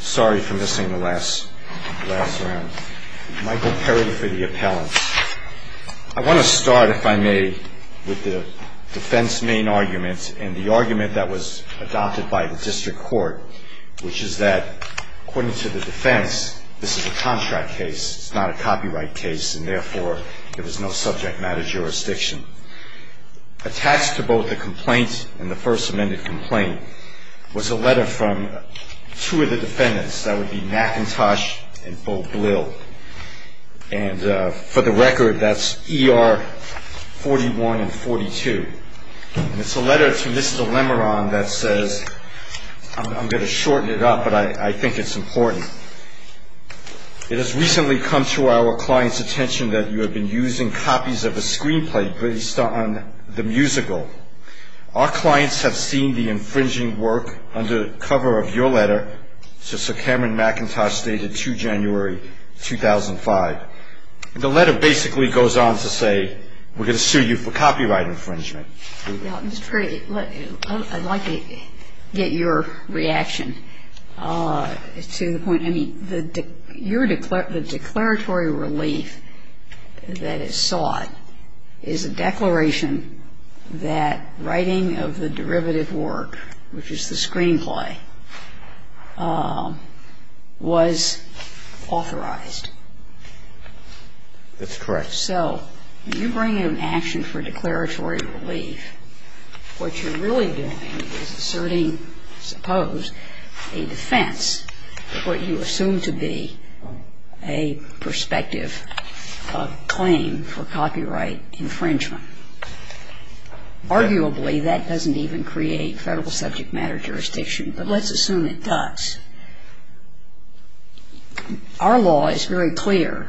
Sorry for missing the last round. Michael Perry for the appellant. I want to start, if I may, with the defense main argument and the argument that was adopted by the district court, which is that, according to the defense, this is a contract case, it's not a copyright case, and therefore, there was no subject matter jurisdiction. Attached to both the complaint and the first amended complaint was a letter from two of the defendants. That would be MacKintosh and Bo Blill. And for the record, that's ER 41 and 42. And it's a letter to Mr. Lemorande that says, I'm going to shorten it up, but I think it's important. It has recently come to our client's attention that you have been using copies of a screenplay based on the musical. Our clients have seen the infringing work under the cover of your letter. So Sir Cameron MacKintosh stated 2 January 2005. And the letter basically goes on to say, we're going to sue you for copyright infringement. And I'm going to say, we're going to sue you for copyright infringement. And I'm going to say, we're going to sue you for copyright infringement. What you're really doing is asserting, suppose, a defense of what you assume to be a prospective claim for copyright infringement. Arguably, that doesn't even create federal subject matter jurisdiction, but let's assume it does. Our law is very clear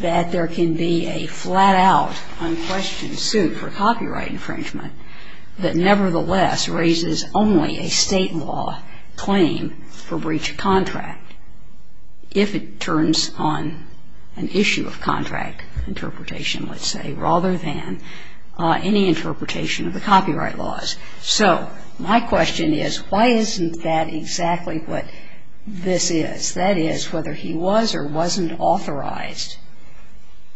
that there can be a flat-out unquestioned suit for copyright infringement that nevertheless raises only a state law claim for breach of contract, if it turns on an issue of contract interpretation, let's say, rather than any interpretation of the copyright laws. So my question is, why isn't that exactly what this is? That is, whether he was or wasn't authorized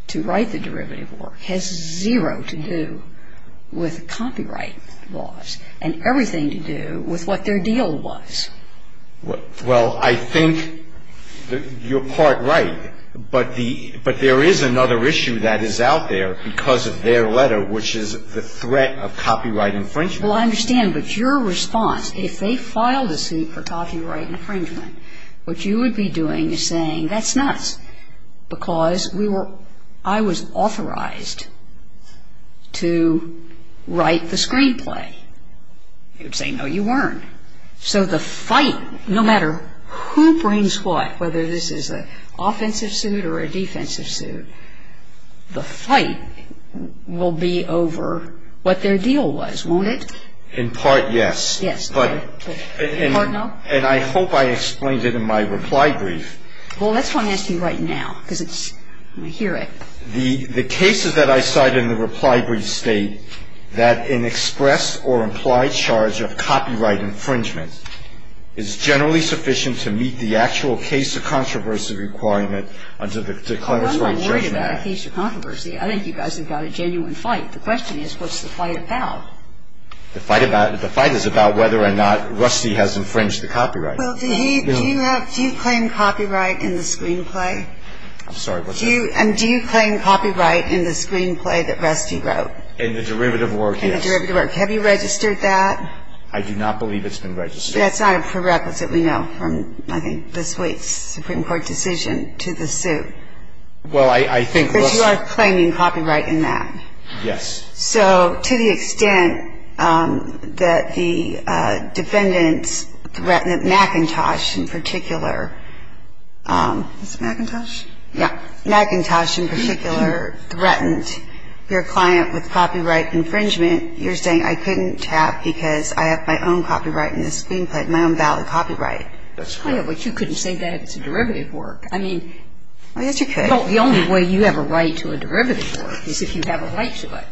to write the derivative work has zero to do with copyright laws and everything to do with what their deal was. Well, I think you're part right, but there is another issue that is out there because of their letter, which is the threat of copyright infringement. Well, I understand, but your response, if they filed a suit for copyright infringement, what you would be doing is saying, that's nuts. Because I was authorized to write the screenplay. You would say, no, you weren't. So the fight, no matter who brings what, whether this is an offensive suit or a defensive suit, the fight will be over what their deal was, won't it? In part, yes. Yes. In part, no. And I hope I explained it in my reply brief. Well, that's why I'm asking you right now, because it's, I hear it. The cases that I cite in the reply brief state that an express or implied charge of copyright infringement is generally sufficient to meet the actual case of controversy requirement under the declaratory judgment. Well, I'm not worried about a case of controversy. I think you guys have got a genuine fight. The question is, what's the fight about? The fight is about whether or not Rusty has infringed the copyright. Well, do you have, do you claim copyright in the screenplay? I'm sorry, what's that? Do you, and do you claim copyright in the screenplay that Rusty wrote? In the derivative work, yes. In the derivative work. Have you registered that? I do not believe it's been registered. That's not a prerequisite. We know from, I think, this week's Supreme Court decision to the suit. Well, I think Rusty But you are claiming copyright in that. Yes. So to the extent that the defendants threatened McIntosh in particular. Was it McIntosh? Yes. McIntosh in particular threatened your client with copyright infringement. You're saying I couldn't have because I have my own copyright in the screenplay, my own valid copyright. That's correct. But you couldn't say that it's a derivative work. I mean. Oh, yes, you could. The only way you have a right to a derivative work is if you have a right to it.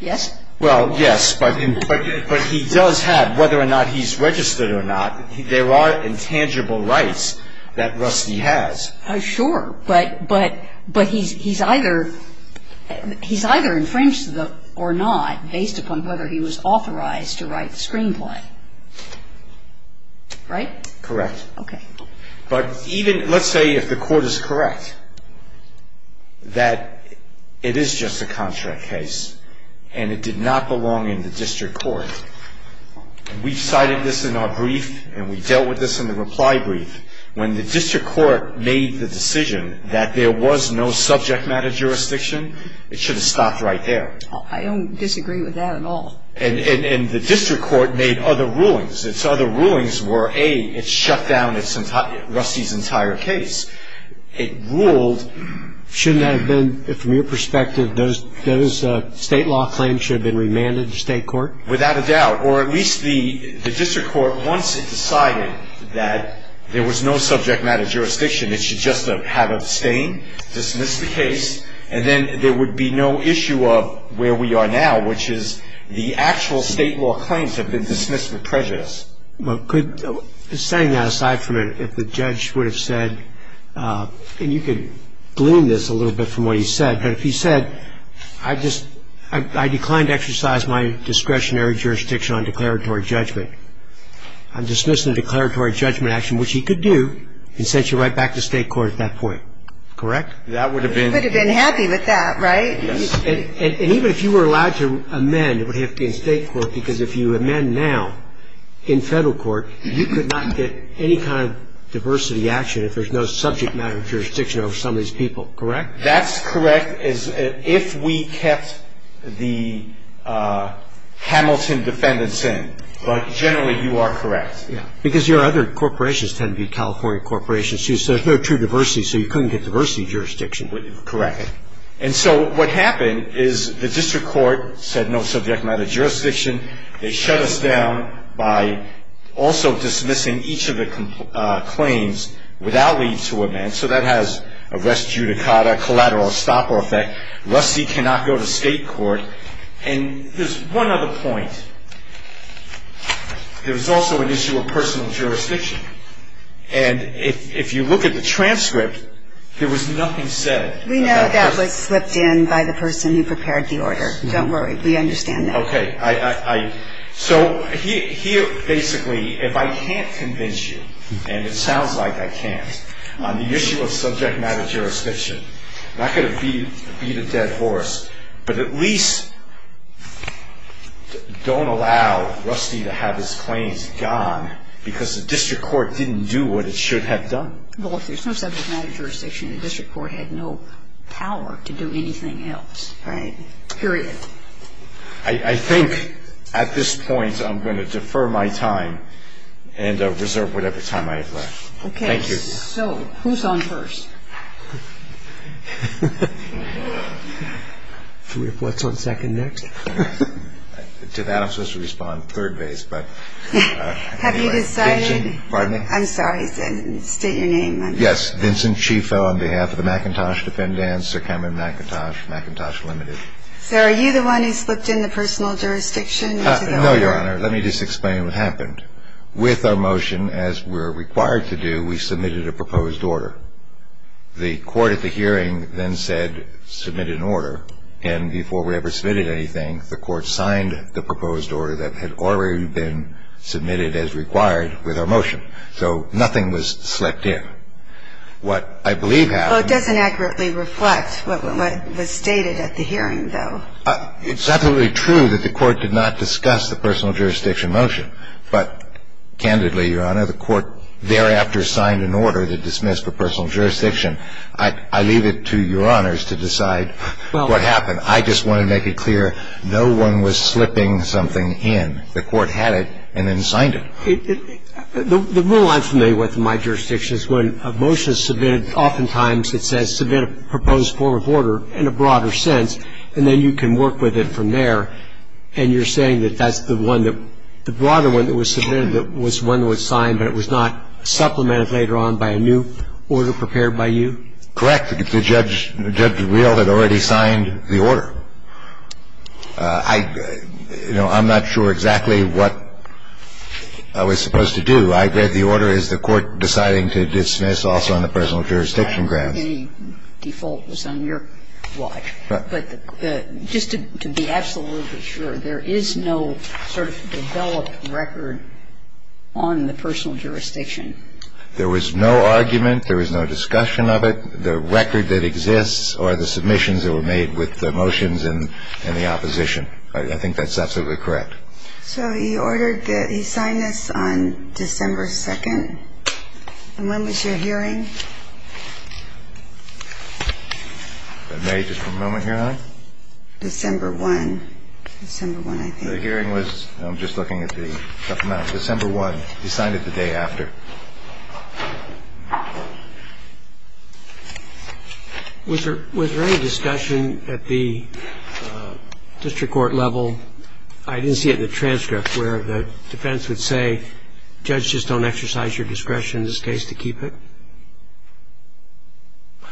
Yes? Well, yes, but he does have, whether or not he's registered or not, there are intangible rights that Rusty has. Sure, but he's either, he's either infringed or not based upon whether he was authorized to write the screenplay. Right? Correct. Okay. But even, let's say if the court is correct that it is just a contract case and it did not belong in the district court. We've cited this in our brief and we dealt with this in the reply brief. When the district court made the decision that there was no subject matter jurisdiction, it should have stopped right there. I don't disagree with that at all. And the district court made other rulings. Its other rulings were, A, it shut down Rusty's entire case. It ruled. Shouldn't that have been, from your perspective, those state law claims should have been remanded to state court? Without a doubt. Or at least the district court, once it decided that there was no subject matter jurisdiction, it should just have abstained, dismissed the case. And then there would be no issue of where we are now, which is the actual state law claims have been dismissed with prejudice. Well, could, setting that aside for a minute, if the judge would have said, and you could gloom this a little bit from what he said, but if he said, I just, I declined to exercise my discretionary jurisdiction on declaratory judgment, I'm dismissing the declaratory judgment action, which he could do and sent you right back to state court at that point. Correct? That would have been. He would have been happy with that, right? Yes. And even if you were allowed to amend, it would have to be in state court, because if you amend now in federal court, you could not get any kind of diversity action if there's no subject matter jurisdiction over some of these people. Correct? That's correct if we kept the Hamilton defendants in. But generally, you are correct. Yeah. Because your other corporations tend to be California corporations, too, so there's no true diversity, so you couldn't get diversity jurisdiction. Correct. And so what happened is the district court said no subject matter jurisdiction. They shut us down by also dismissing each of the claims without leave to amend. So that has a res judicata, collateral stopper effect. Rusty cannot go to state court. And there's one other point. There was also an issue of personal jurisdiction. And if you look at the transcript, there was nothing said. We know that was slipped in by the person who prepared the order. Don't worry. We understand that. Okay. So here, basically, if I can't convince you, and it sounds like I can't, on the issue of subject matter jurisdiction, I'm not going to beat a dead horse, but at least don't allow Rusty to have his claims gone because the district court didn't do what it should have done. Well, if there's no subject matter jurisdiction, the district court had no power to do anything else. Right. Period. I think at this point I'm going to defer my time and reserve whatever time I have left. Okay. Thank you. So who's on first? What's on second next? I'm supposed to respond third base, but anyway. Have you decided? Pardon me? I'm sorry. State your name. Yes. Vincent Chifo on behalf of the McIntosh Defendants, Sir Cameron McIntosh, McIntosh Limited. So are you the one who slipped in the personal jurisdiction? No, Your Honor. Let me just explain what happened. With our motion, as we're required to do, we submitted a proposed order. The court at the hearing then said submit an order, and before we ever submitted anything, the court signed the proposed order that had already been submitted as required with our motion. So nothing was slipped in. What I believe happened was the court did not discuss the personal jurisdiction motion, but candidly, Your Honor, the court thereafter signed an order to dismiss the personal jurisdiction. I leave it to Your Honors to decide what happened. I just want to make it clear no one was slipping something in. The court had it and then signed it. The rule I'm familiar with in my jurisdiction is when a motion is submitted, oftentimes it says submit a proposed form of order in a broader sense, and then you can work with it from there, and you're saying that that's the one that the broader one that was submitted that was one that was signed but it was not supplemented later on by a new order prepared by you? Correct. Judge Reel had already signed the order. I'm not sure exactly what I was supposed to do. I read the order as the court deciding to dismiss also on the personal jurisdiction grounds. I don't think any default was on your watch, but just to be absolutely sure, there is no sort of developed record on the personal jurisdiction? There was no argument. There was no discussion of it. The record that exists are the submissions that were made with the motions and the opposition. I think that's absolutely correct. So he ordered that he sign this on December 2nd. And when was your hearing? If I may, just for a moment, Your Honor. December 1. December 1, I think. The hearing was, I'm just looking at the, no, December 1. He signed it the day after. Was there any discussion at the district court level, I didn't see it in the transcript, where the defense would say, judge, just don't exercise your discretion in this case to keep it?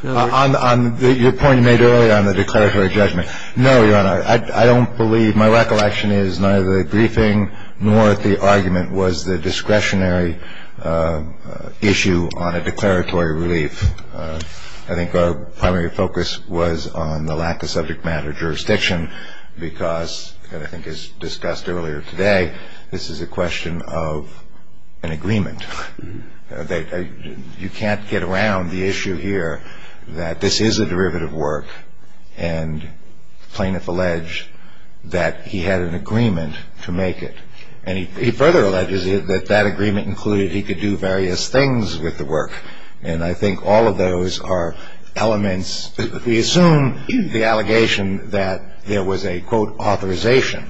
On your point you made earlier on the declaratory judgment, no, Your Honor. I don't believe, my recollection is neither the briefing nor the argument was the discretionary issue on a declaratory relief. I think our primary focus was on the lack of subject matter jurisdiction because, and I think as discussed earlier today, this is a question of an agreement. You can't get around the issue here that this is a derivative work, and plaintiff alleged that he had an agreement to make it. And he further alleges that that agreement included he could do various things with the work, and I think all of those are elements. If we assume the allegation that there was a, quote, authorization,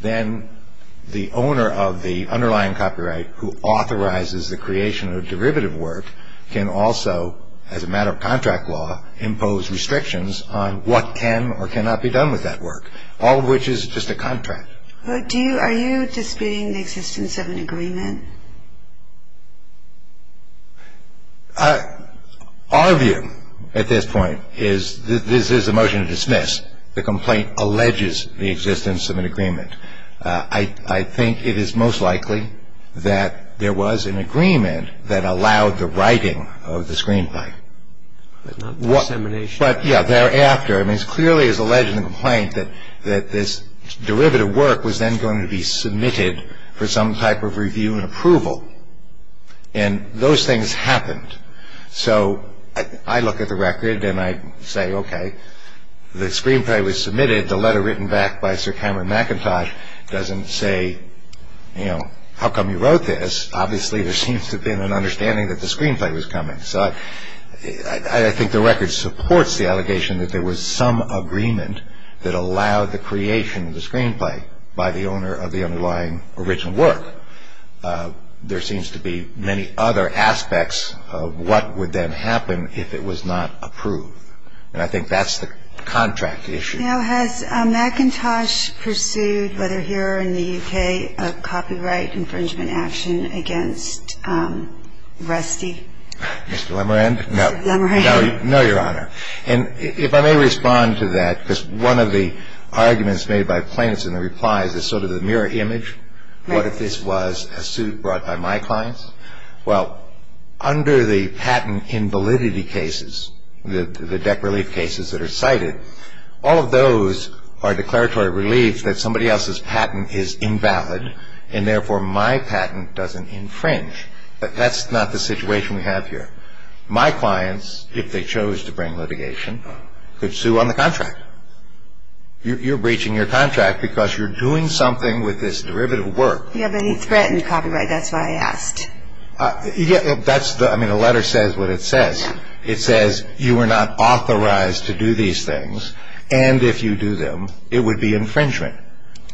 then the owner of the underlying copyright who authorizes the creation of derivative work can also, as a matter of contract law, impose restrictions on what can or cannot be done with that work, all of which is just a contract. Are you disputing the existence of an agreement? Our view at this point is that this is a motion to dismiss. The complaint alleges the existence of an agreement. I think it is most likely that there was an agreement that allowed the writing of the screenplay. But not dissemination. But, yeah, thereafter, I mean, it clearly is alleged in the complaint that this derivative work was then going to be submitted for some type of review and approval. And those things happened. So I look at the record and I say, okay, the screenplay was submitted. The letter written back by Sir Cameron McIntosh doesn't say, you know, how come you wrote this? Obviously, there seems to have been an understanding that the screenplay was coming. So I think the record supports the allegation that there was some agreement that allowed the creation of the screenplay by the owner of the underlying original work. There seems to be many other aspects of what would then happen if it was not approved. And I think that's the contract issue. Now, has McIntosh pursued, whether here or in the U.K., a copyright infringement action against Rusty? Mr. Lemerand? Mr. Lemerand. No, Your Honor. And if I may respond to that, because one of the arguments made by plaintiffs in the replies is sort of the mirror image. What if this was a suit brought by my clients? Well, under the patent invalidity cases, the deck relief cases that are cited, all of those are declaratory relief that somebody else's patent is invalid, and therefore my patent doesn't infringe. That's not the situation we have here. My clients, if they chose to bring litigation, could sue on the contract. You're breaching your contract because you're doing something with this derivative work. Do you have any threatened copyright? That's why I asked. I mean, the letter says what it says. It says you are not authorized to do these things, and if you do them, it would be infringement,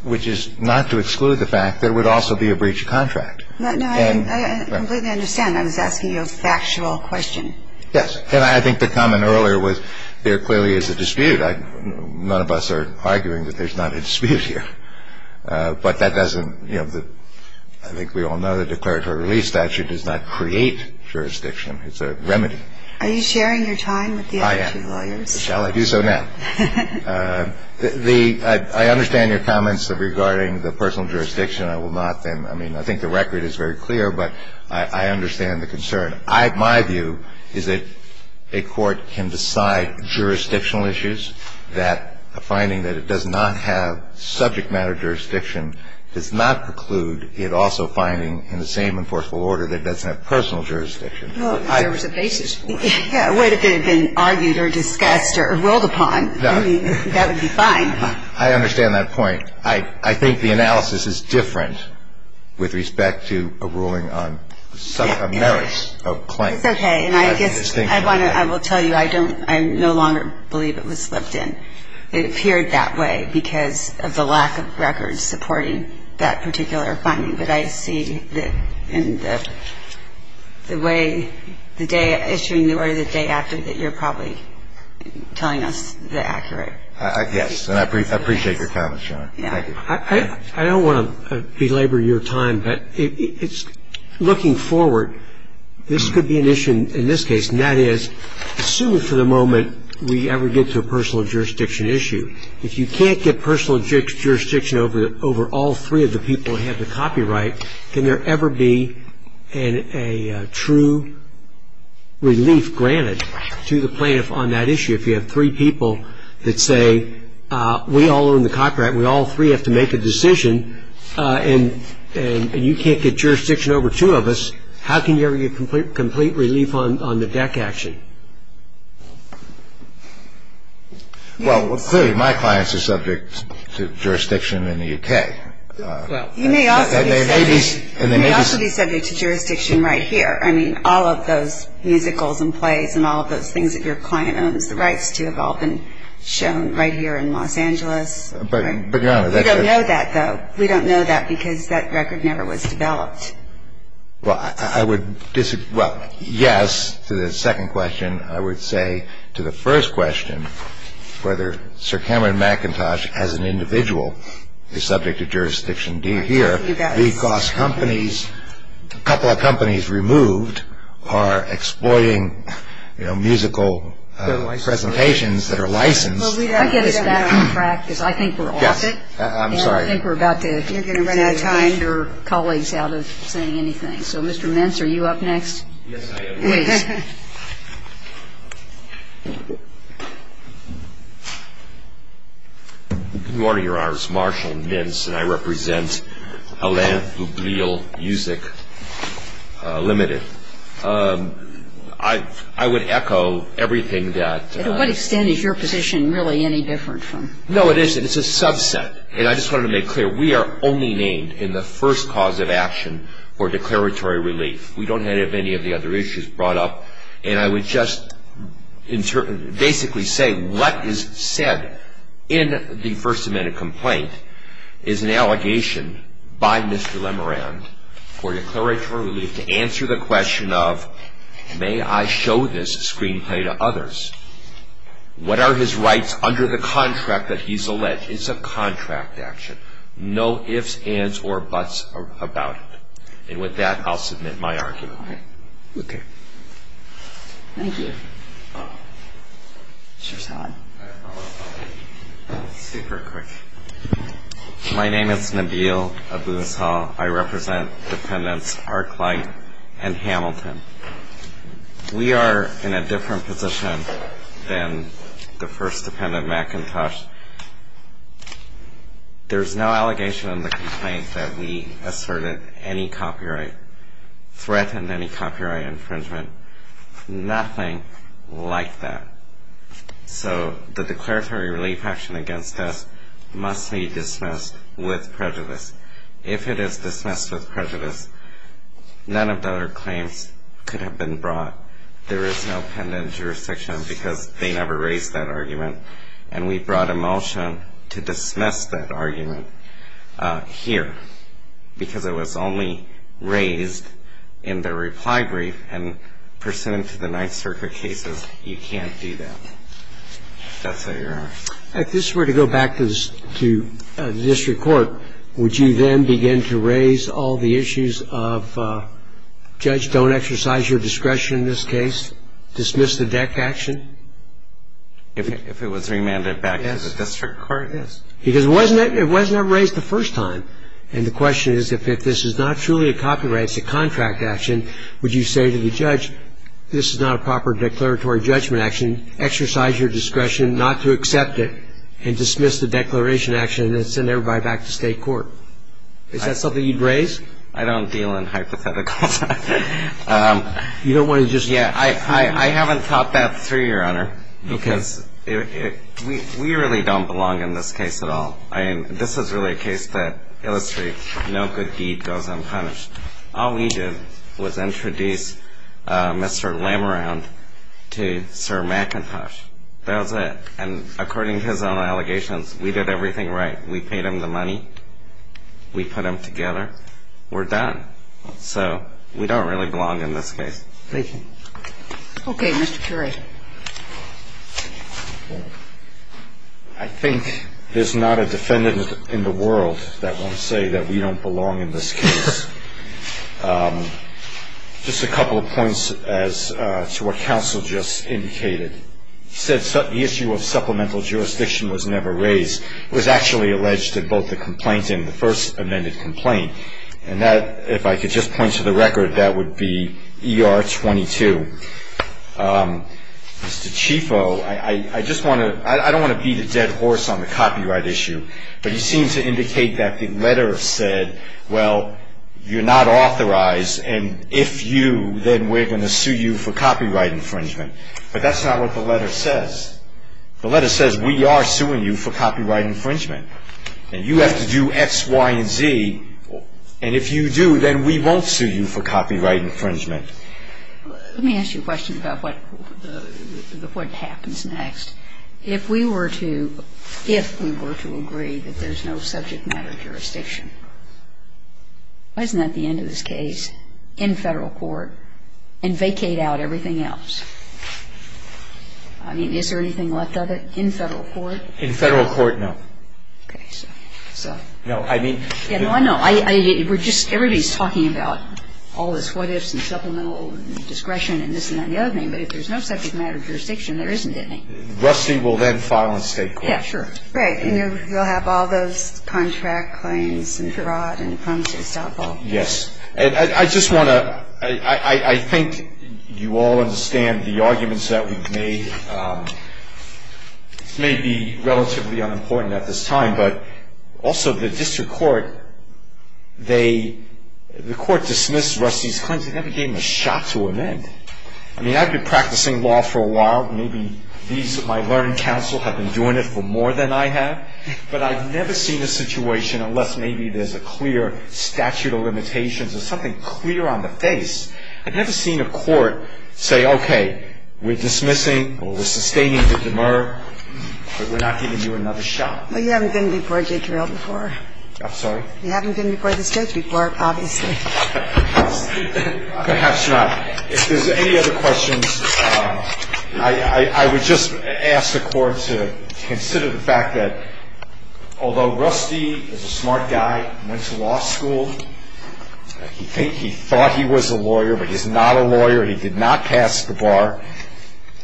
which is not to exclude the fact there would also be a breach of contract. No, I completely understand. I was asking you a factual question. Yes. And I think the comment earlier was there clearly is a dispute. None of us are arguing that there's not a dispute here. But that doesn't, you know, I think we all know the declaratory relief statute does not create jurisdiction. It's a remedy. Are you sharing your time with the other two lawyers? I am. Shall I do so now? I understand your comments regarding the personal jurisdiction. I will not then. I mean, I think the record is very clear, but I understand the concern. My view is that a court can decide jurisdictional issues, that a finding that it does not have subject matter jurisdiction does not preclude it also finding in the same enforceable order that it doesn't have personal jurisdiction. Well, if there was a basis for it. It would have been argued or discussed or ruled upon. I mean, that would be fine. I understand that point. I think the analysis is different with respect to a ruling on merits of claim. It's okay. And I guess I want to, I will tell you, I don't, I no longer believe it was slipped in. It appeared that way because of the lack of records supporting that particular finding. But I see that in the way the day issuing the order the day after that you're probably telling us the accurate. Yes. And I appreciate your comments, Your Honor. Thank you. I don't want to belabor your time, but it's, looking forward, this could be an issue in this case, and that is, assume for the moment we ever get to a personal jurisdiction issue. If you can't get personal jurisdiction over all three of the people who have the copyright, can there ever be a true relief granted to the plaintiff on that issue? If you have three people that say, we all own the copyright, we all three have to make a decision, and you can't get jurisdiction over two of us, how can there be a complete relief on the deck action? Well, clearly my clients are subject to jurisdiction in the U.K. You may also be subject to jurisdiction right here. I mean, all of those musicals and plays and all of those things that your client owns, the rights to have all been shown right here in Los Angeles. But, Your Honor, that's... We don't know that, though. We don't know that because that record never was developed. Well, I would disagree. Well, yes, to the second question, I would say to the first question, whether Sir Cameron Macintosh as an individual is subject to jurisdiction here, because companies, a couple of companies removed, are exploiting musical presentations that are licensed. I get us back on track because I think we're off it. I'm sorry. And I think we're about to... You're going to run out of time. ...get your colleagues out of saying anything. So, Mr. Mintz, are you up next? Yes, I am. Please. Good morning, Your Honors. Marshall Mintz, and I represent Atlanta Publial Music Limited. I would echo everything that... No, it isn't. It's a subset. And I just wanted to make clear, we are only named in the first cause of action for declaratory relief. We don't have any of the other issues brought up. And I would just basically say what is said in the First Amendment complaint is an allegation by Mr. Lemerand for declaratory relief to answer the question of, may I show this screenplay to others? What are his rights under the contract that he's alleged? It's a contract action. No ifs, ands, or buts about it. And with that, I'll submit my argument. All right. Okay. Thank you. Mr. Saad. I have a follow-up. Super quick. My name is Nabeel Abu-Saad. I represent Dependents Arclight and Hamilton. We are in a different position than the first Dependent McIntosh. There's no allegation in the complaint that we asserted any copyright, threatened any copyright infringement, nothing like that. So the declaratory relief action against us must be dismissed with prejudice. If it is dismissed with prejudice, none of the other claims could have been brought. There is no pending jurisdiction because they never raised that argument. And we brought a motion to dismiss that argument here because it was only raised in the reply brief and pursuant to the Ninth Circuit cases, you can't do that. If that's what you're asking. If this were to go back to the district court, would you then begin to raise all the issues of judge, don't exercise your discretion in this case, dismiss the deck action? If it was remanded back to the district court, yes. Because it wasn't ever raised the first time. And the question is if this is not truly a copyright, it's a contract action, would you say to the judge, this is not a proper declaratory judgment action, exercise your discretion not to accept it and dismiss the declaration action and then send everybody back to state court? Is that something you'd raise? I don't deal in hypotheticals. You don't want to just. Yeah, I haven't thought that through, Your Honor. Because we really don't belong in this case at all. I mean, this is really a case that illustrates no good deed goes unpunished. All we did was introduce Mr. Lameround to Sir McIntosh. That was it. And according to his own allegations, we did everything right. We paid him the money. We put him together. We're done. So we don't really belong in this case. Thank you. Okay, Mr. Currie. I think there's not a defendant in the world that won't say that we don't belong in this case. Just a couple of points as to what counsel just indicated. He said the issue of supplemental jurisdiction was never raised. It was actually alleged in both the complaint and the first amended complaint. And that, if I could just point to the record, that would be ER 22. Mr. Cifo, I don't want to beat a dead horse on the copyright issue, but you seem to indicate that the letter said, well, you're not authorized, and if you, then we're going to sue you for copyright infringement. But that's not what the letter says. The letter says we are suing you for copyright infringement. And you have to do X, Y, and Z. And if you do, then we won't sue you for copyright infringement. Let me ask you a question about what happens next. If we were to agree that there's no subject matter jurisdiction, why isn't that the end of this case in Federal court and vacate out everything else? I mean, is there anything left of it in Federal court? In Federal court, no. Okay. So. No, I mean. Yeah, no, I know. We're just, everybody's talking about all this what ifs and supplemental discretion and this and that and the other thing. But if there's no subject matter jurisdiction, there isn't any. Rusty will then file in state court. Yeah, sure. Right. And you'll have all those contract claims and fraud and promises to outlaw. Yes. And I just want to, I think you all understand the arguments that we've made may be relatively unimportant at this time. But also the district court, they, the court dismissed Rusty's claims. They never gave him a shot to amend. I mean, I've been practicing law for a while. Maybe these, my learned counsel have been doing it for more than I have. But I've never seen a situation unless maybe there's a clear statute of limitations or something clear on the face. I've never seen a court say, okay, we're dismissing or we're sustaining Victor Murr, but we're not giving you another shot. Well, you haven't been before, J. Carrell, before. I'm sorry? You haven't been before the stage before, obviously. Perhaps not. If there's any other questions, I would just ask the court to consider the fact that although Rusty is a smart guy, went to law school, he thought he was a lawyer, but he's not a lawyer. He did not pass the bar.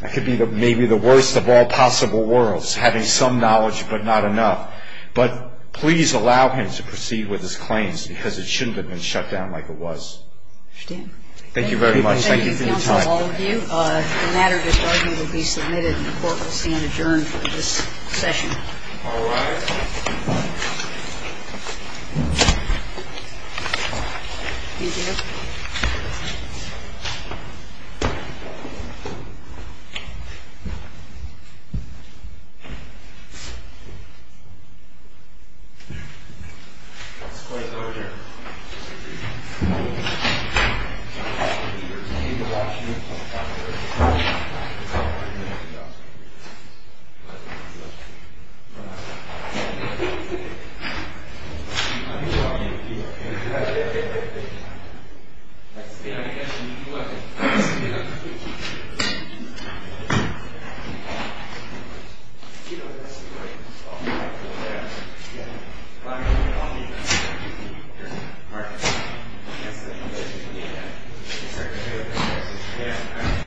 That could be maybe the worst of all possible worlds, having some knowledge but not enough. But please allow him to proceed with his claims because it shouldn't have been shut down like it was. I understand. Thank you very much. Thank you for your time. Thank you, counsel, all of you. The matter this morning will be submitted and the court will stand adjourned for this session. All rise. Thank you. Thank you.